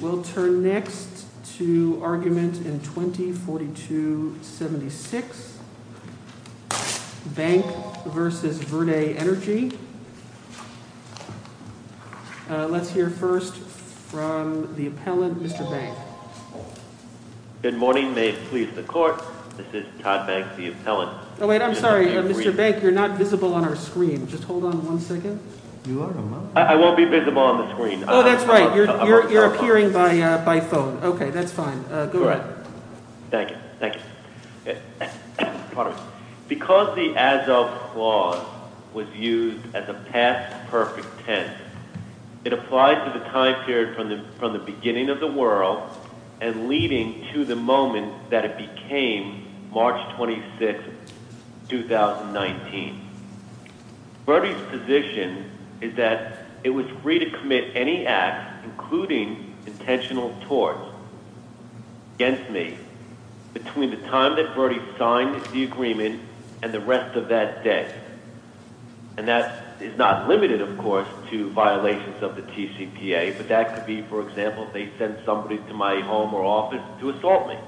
We'll turn next to argument in 20-4276, Bank v. Verde Energy. Let's hear first from the appellant, Mr. Bank. Good morning. May it please the court. This is Todd Bank, the appellant. Oh, wait. I'm sorry. Mr. Bank, you're not visible on our screen. Just hold on one second. You are on my screen. I won't be visible on the screen. Oh, that's right. You're appearing by phone. Okay. That's fine. Go ahead. Thank you. Thank you. Because the as of clause was used as a past perfect tense, it applies to the time period from the beginning of the world and leading to the moment that it became March 26, 2019. Verde's position is that it was free to commit any act, including intentional torts, against me between the time that Verde signed the agreement and the rest of that day. And that is not limited, of course, to violations of the TCPA, but that could be, for example, if they sent somebody to my home or office to assault me.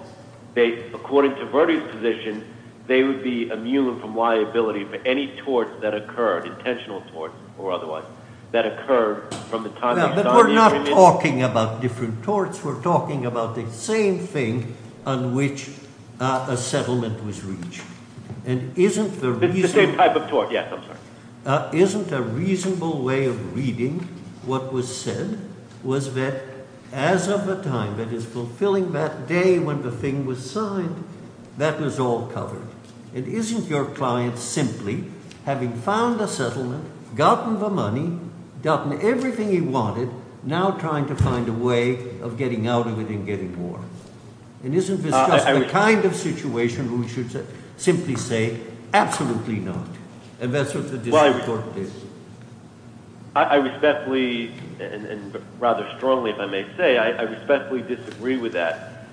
According to Verde's position, they would be immune from liability for any torts that occurred, intentional torts or otherwise, that occurred from the time that Verde signed the agreement. But we're not talking about different torts. We're talking about the same thing on which a settlement was reached. It's the same type of tort. Yes, I'm sorry. Isn't a reasonable way of reading what was said was that as of the time that is fulfilling that day when the thing was signed, that was all covered? And isn't your client simply having found a settlement, gotten the money, gotten everything he wanted, now trying to find a way of getting out of it and getting more? And isn't this just the kind of situation where we should simply say, absolutely not? And that's what the tort is. I respectfully and rather strongly, if I may say, I respectfully disagree with that.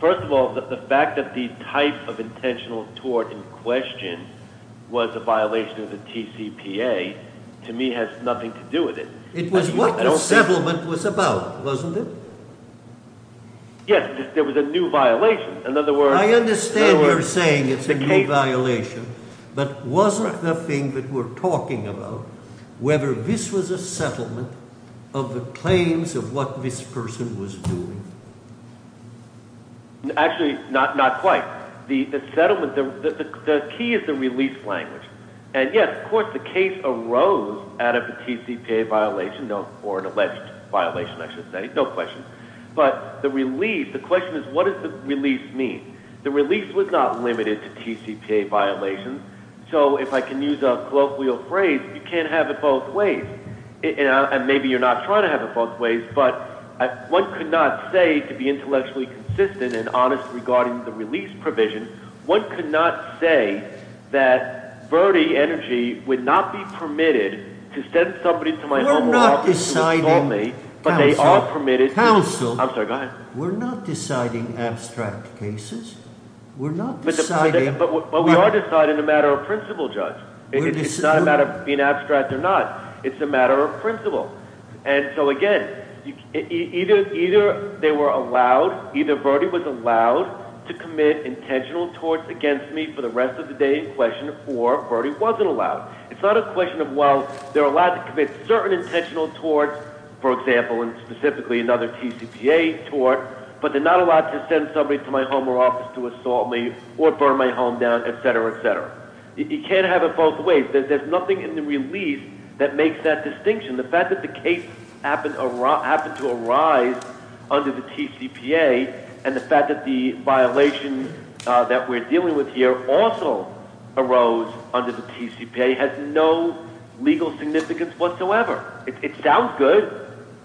First of all, the fact that the type of intentional tort in question was a violation of the TCPA, to me, has nothing to do with it. It was what the settlement was about, wasn't it? Yes, there was a new violation. I understand you're saying it's a new violation, but wasn't the thing that we're talking about whether this was a settlement of the claims of what this person was doing? Actually, not quite. The settlement, the key is the release language. And yes, of course, the case arose out of a TCPA violation or an alleged violation, I should say. No question. But the release, the question is, what does the release mean? The release was not limited to TCPA violations, so if I can use a colloquial phrase, you can't have it both ways. And maybe you're not trying to have it both ways, but one could not say, to be intellectually consistent and honest regarding the release provision, one could not say that Verdi Energy would not be permitted to send somebody to my home or office to assault me, but they are permitted to. Counsel, we're not deciding abstract cases. But we are deciding a matter of principle, Judge. It's not a matter of being abstract or not. It's a matter of principle. And so again, either they were allowed, either Verdi was allowed to commit intentional torts against me for the rest of the day in question, or Verdi wasn't allowed. It's not a question of, well, they're allowed to commit certain intentional torts, for example, and specifically another TCPA tort, but they're not allowed to send somebody to my home or office to assault me or burn my home down, etc., etc. You can't have it both ways. There's nothing in the release that makes that distinction. The fact that the case happened to arise under the TCPA and the fact that the violation that we're dealing with here also arose under the TCPA has no legal significance whatsoever. It sounds good,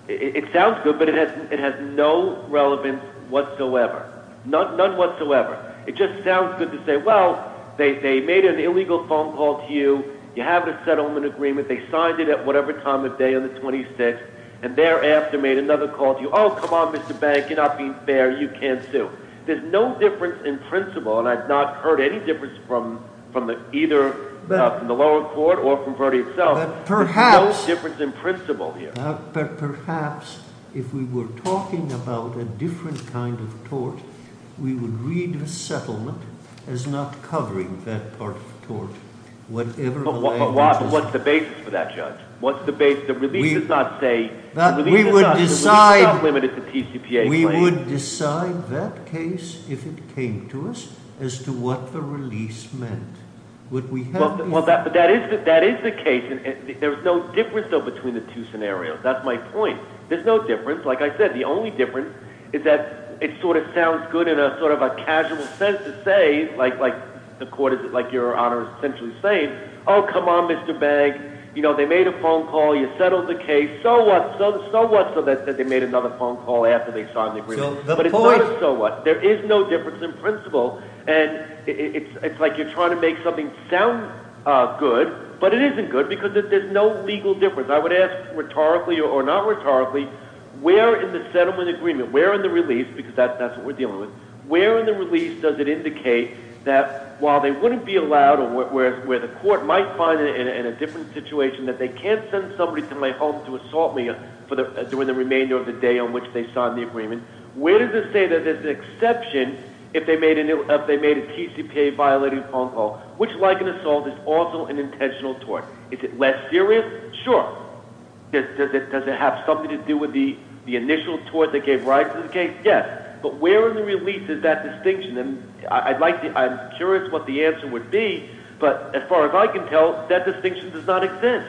but it has no relevance whatsoever, none whatsoever. It just sounds good to say, well, they made an illegal phone call to you. You have the settlement agreement. They signed it at whatever time of day on the 26th and thereafter made another call to you. Oh, come on, Mr. Bank, you're not being fair. You can't sue. There's no difference in principle, and I've not heard any difference from either the lower court or from Verdi itself. There's no difference in principle here. But perhaps if we were talking about a different kind of tort, we would read the settlement as not covering that part of the tort, whatever the language is. But what's the basis for that, Judge? What's the basis? The release does not say— We would decide that case, if it came to us, as to what the release meant. Well, that is the case. There's no difference, though, between the two scenarios. That's my point. There's no difference. Like I said, the only difference is that it sort of sounds good in a sort of a casual sense to say, like your Honor is essentially saying, oh, come on, Mr. Bank, they made a phone call, you settled the case, so what, so what, so that they made another phone call after they signed the agreement. But it's not a so what. There is no difference in principle, and it's like you're trying to make something sound good, but it isn't good because there's no legal difference. I would ask rhetorically or not rhetorically, where in the settlement agreement, where in the release, because that's what we're dealing with, where in the release does it indicate that while they wouldn't be allowed, or where the court might find it in a different situation, that they can't send somebody to my home to assault me during the remainder of the day on which they signed the agreement, where does it say that there's an exception if they made a TCPA-violating phone call, which, like an assault, is also an intentional tort? Is it less serious? Sure. Does it have something to do with the initial tort that gave rise to the case? Yes. But where in the release is that distinction? And I'd like to, I'm curious what the answer would be, but as far as I can tell, that distinction does not exist.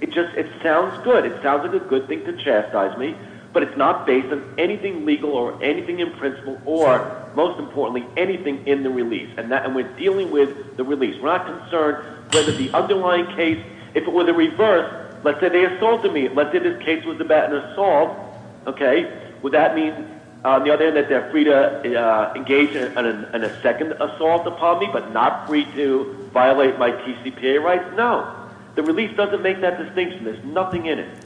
It just, it sounds good. It sounds like a good thing to chastise me, but it's not based on anything legal or anything in principle or, most importantly, anything in the release. And that, and we're dealing with the release. We're not concerned whether the underlying case, if it were the reverse, let's say they assaulted me, let's say this case was about an assault, okay, would that mean, on the other hand, that they're free to engage in a second assault upon me, but not free to violate my TCPA rights? No. The release doesn't make that distinction. There's nothing in it.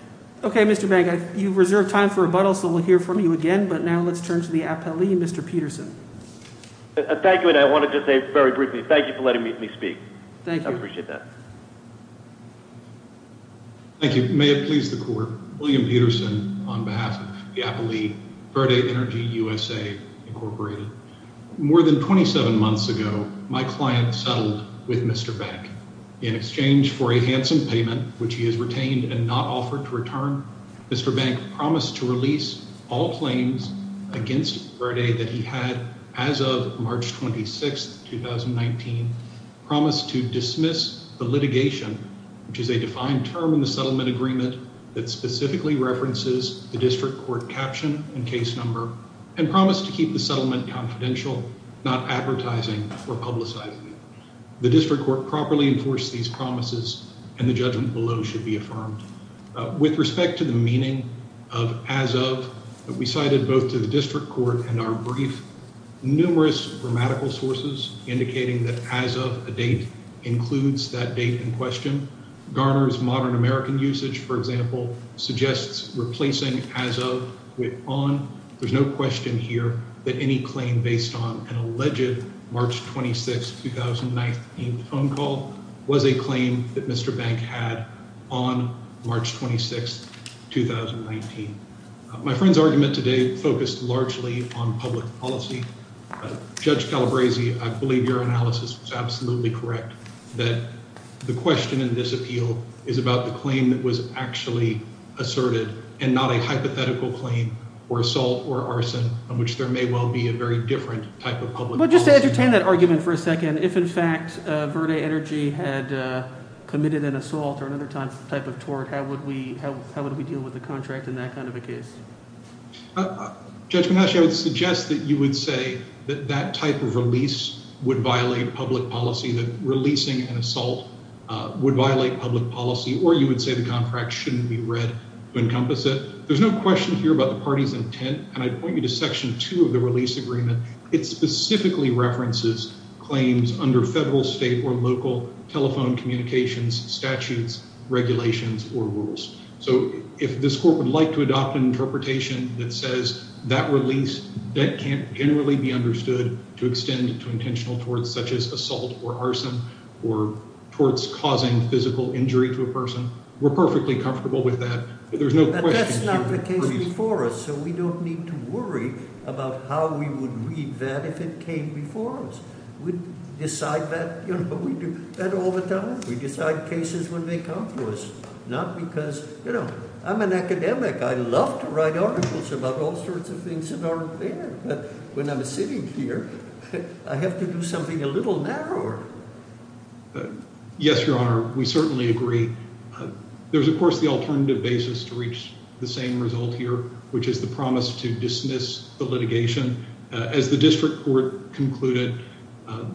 Okay, Mr. Bank, you've reserved time for rebuttal, so we'll hear from you again, but now let's turn to the appellee, Mr. Peterson. Thank you, and I wanted to say very briefly, thank you for letting me speak. Thank you. I appreciate that. Thank you. May it please the court, William Peterson, on behalf of the appellee, Verde Energy USA, Incorporated. More than 27 months ago, my client settled with Mr. Bank. In exchange for a handsome payment, which he has retained and not offered to return, Mr. Bank promised to release all claims against Verde that he had as of March 26, 2019, promised to dismiss the litigation, which is a defined term in the settlement agreement that specifically references the district court caption and case number, and promised to keep the settlement confidential, not advertising or publicizing it. The district court properly enforced these promises, and the judgment below should be affirmed. With respect to the meaning of as of, we cited both to the district court and our brief, numerous grammatical sources indicating that as of a date includes that date in question. Garner's Modern American Usage, for example, suggests replacing as of with on. There's no question here that any claim based on an alleged March 26, 2019, phone call was a claim that Mr. Bank had on March 26, 2019. My friend's argument today focused largely on public policy. Judge Calabresi, I believe your analysis was absolutely correct, that the question in this appeal is about the claim that was actually asserted and not a hypothetical claim or assault or arson, on which there may well be a very different type of public policy. But just to entertain that argument for a second, if in fact Verde Energy had committed an assault or another type of tort, how would we deal with the contract in that kind of a case? Judge Menasche, I would suggest that you would say that that type of release would violate public policy, that releasing an assault would violate public policy, or you would say the contract shouldn't be read to encompass it. There's no question here about the party's intent, and I'd point you to Section 2 of the release agreement. It specifically references claims under federal, state, or local telephone communications, statutes, regulations, or rules. So if this court would like to adopt an interpretation that says that release, that can't generally be understood to extend to intentional torts, such as assault or arson or torts causing physical injury to a person, we're perfectly comfortable with that. But there's no question here. But that's not the case before us, so we don't need to worry about how we would read that if it came before us. We decide that, you know, we do that all the time. We decide cases when they come to us, not because, you know, I'm an academic. I love to write articles about all sorts of things that aren't there. But when I'm sitting here, I have to do something a little narrower. Yes, Your Honor, we certainly agree. There's, of course, the alternative basis to reach the same result here, which is the promise to dismiss the litigation. As the district court concluded,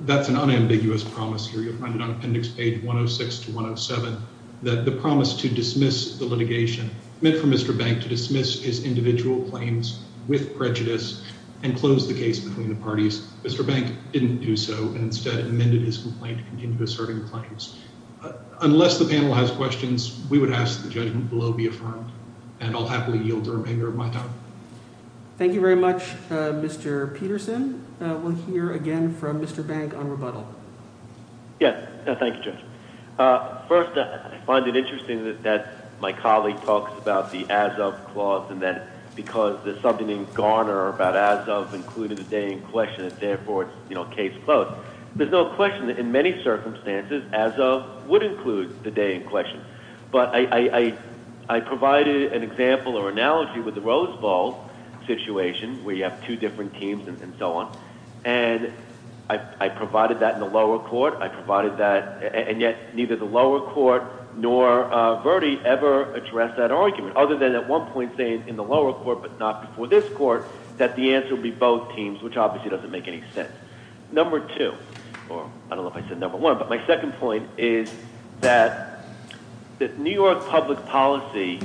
that's an unambiguous promise here. You'll find it on appendix page 106 to 107, that the promise to dismiss the litigation meant for Mr. Bank to dismiss his individual claims with prejudice and close the case between the parties. Mr. Bank didn't do so, and instead amended his complaint to continue asserting the claims. Unless the panel has questions, we would ask that the judgment below be affirmed, and I'll happily yield to remainder of my time. Thank you very much, Mr. Peterson. We'll hear again from Mr. Bank on rebuttal. Yes. Thank you, Judge. First, I find it interesting that my colleague talks about the as-of clause and that because there's something in Garner about as-of including the day in question, and therefore it's case closed. There's no question that in many circumstances, as-of would include the day in question. But I provided an example or analogy with the Rose Bowl situation where you have two different teams and so on, and I provided that in the lower court. I provided that, and yet neither the lower court nor Verdi ever addressed that argument, other than at one point saying in the lower court but not before this court that the answer would be both teams, which obviously doesn't make any sense. Number two, or I don't know if I said number one, but my second point is that New York public policy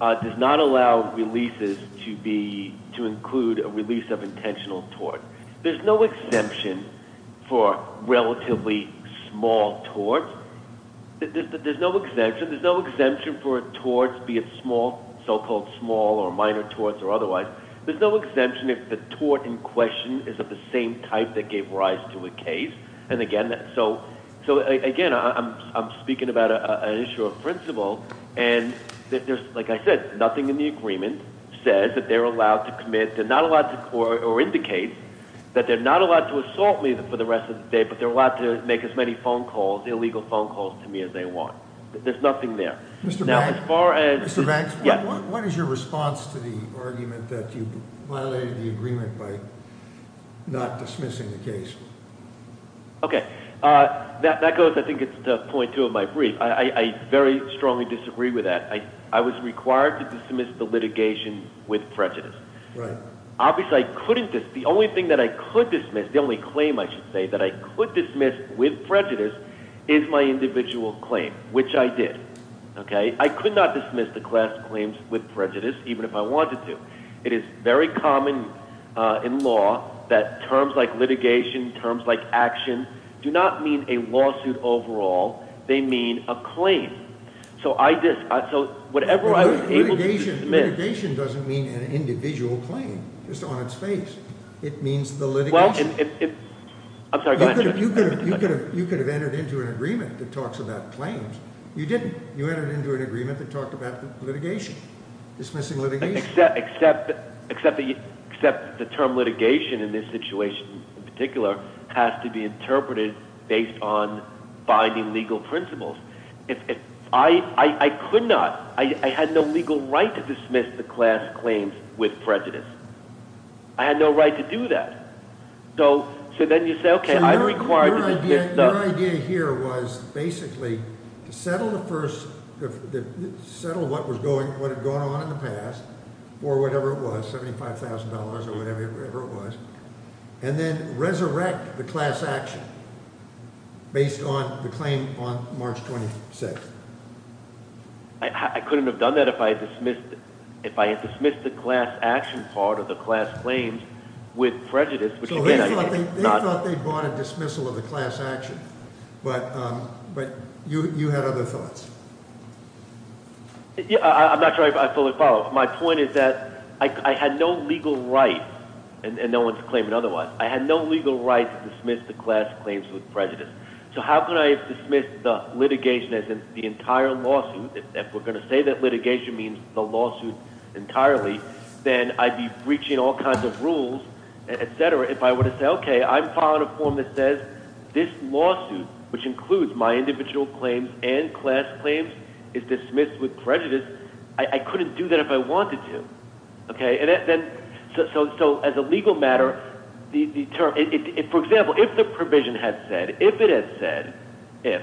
does not allow releases to include a release of intentional tort. There's no exemption for relatively small torts. There's no exemption for torts, be it so-called small or minor torts or otherwise. There's no exemption if the tort in question is of the same type that gave rise to a case. Again, I'm speaking about an issue of principle, and like I said, nothing in the agreement says that they're allowed to commit or indicates that they're not allowed to assault me for the rest of the day, but they're allowed to make as many illegal phone calls to me as they want. There's nothing there. that you violated the agreement by not dismissing the case. Okay. That goes, I think, to point two of my brief. I very strongly disagree with that. I was required to dismiss the litigation with prejudice. Right. Obviously, I couldn't dismiss. The only thing that I could dismiss, the only claim I should say that I could dismiss with prejudice is my individual claim, which I did. I could not dismiss the class claims with prejudice, even if I wanted to. It is very common in law that terms like litigation, terms like action, do not mean a lawsuit overall. They mean a claim. So whatever I was able to dismiss- Litigation doesn't mean an individual claim just on its face. It means the litigation. I'm sorry. Go ahead. You could have entered into an agreement that talks about claims. You didn't. You entered into an agreement that talked about litigation, dismissing litigation. Except the term litigation in this situation, in particular, has to be interpreted based on binding legal principles. I could not. I had no legal right to dismiss the class claims with prejudice. I had no right to do that. So then you say, okay, I'm required to dismiss- Your idea here was basically to settle what had gone on in the past or whatever it was, $75,000 or whatever it was, and then resurrect the class action based on the claim on March 26th. I couldn't have done that if I had dismissed the class action part or the class claims with prejudice. They thought they brought a dismissal of the class action, but you had other thoughts. I'm not sure I fully follow. My point is that I had no legal right, and no one's claiming otherwise, I had no legal right to dismiss the class claims with prejudice. So how could I dismiss the litigation as in the entire lawsuit? If we're going to say that litigation means the lawsuit entirely, then I'd be breaching all kinds of rules, et cetera, if I were to say, okay, I'm filing a form that says this lawsuit, which includes my individual claims and class claims, is dismissed with prejudice. I couldn't do that if I wanted to. So as a legal matter, for example, if the provision had said, if it had said, if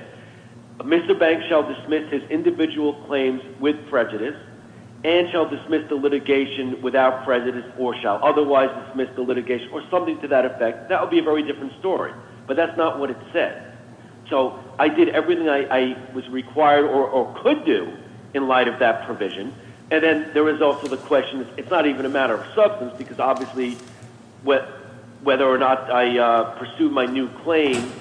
Mr. Banks shall dismiss his individual claims with prejudice and shall dismiss the litigation without prejudice or shall otherwise dismiss the litigation or something to that effect, that would be a very different story. But that's not what it said. So I did everything I was required or could do in light of that provision. And then there is also the question, it's not even a matter of substance, because obviously whether or not I pursued my new claim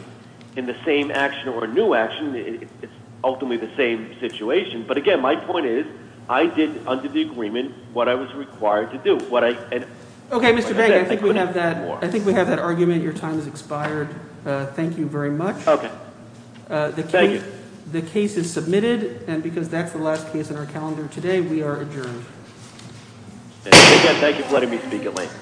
in the same action or a new action, it's ultimately the same situation. But, again, my point is I did under the agreement what I was required to do. Okay, Mr. Banks, I think we have that argument. Your time has expired. Thank you very much. Okay. Thank you. The case is submitted. And because that's the last case on our calendar today, we are adjourned. And again, thank you for letting me speak at length. Thank you.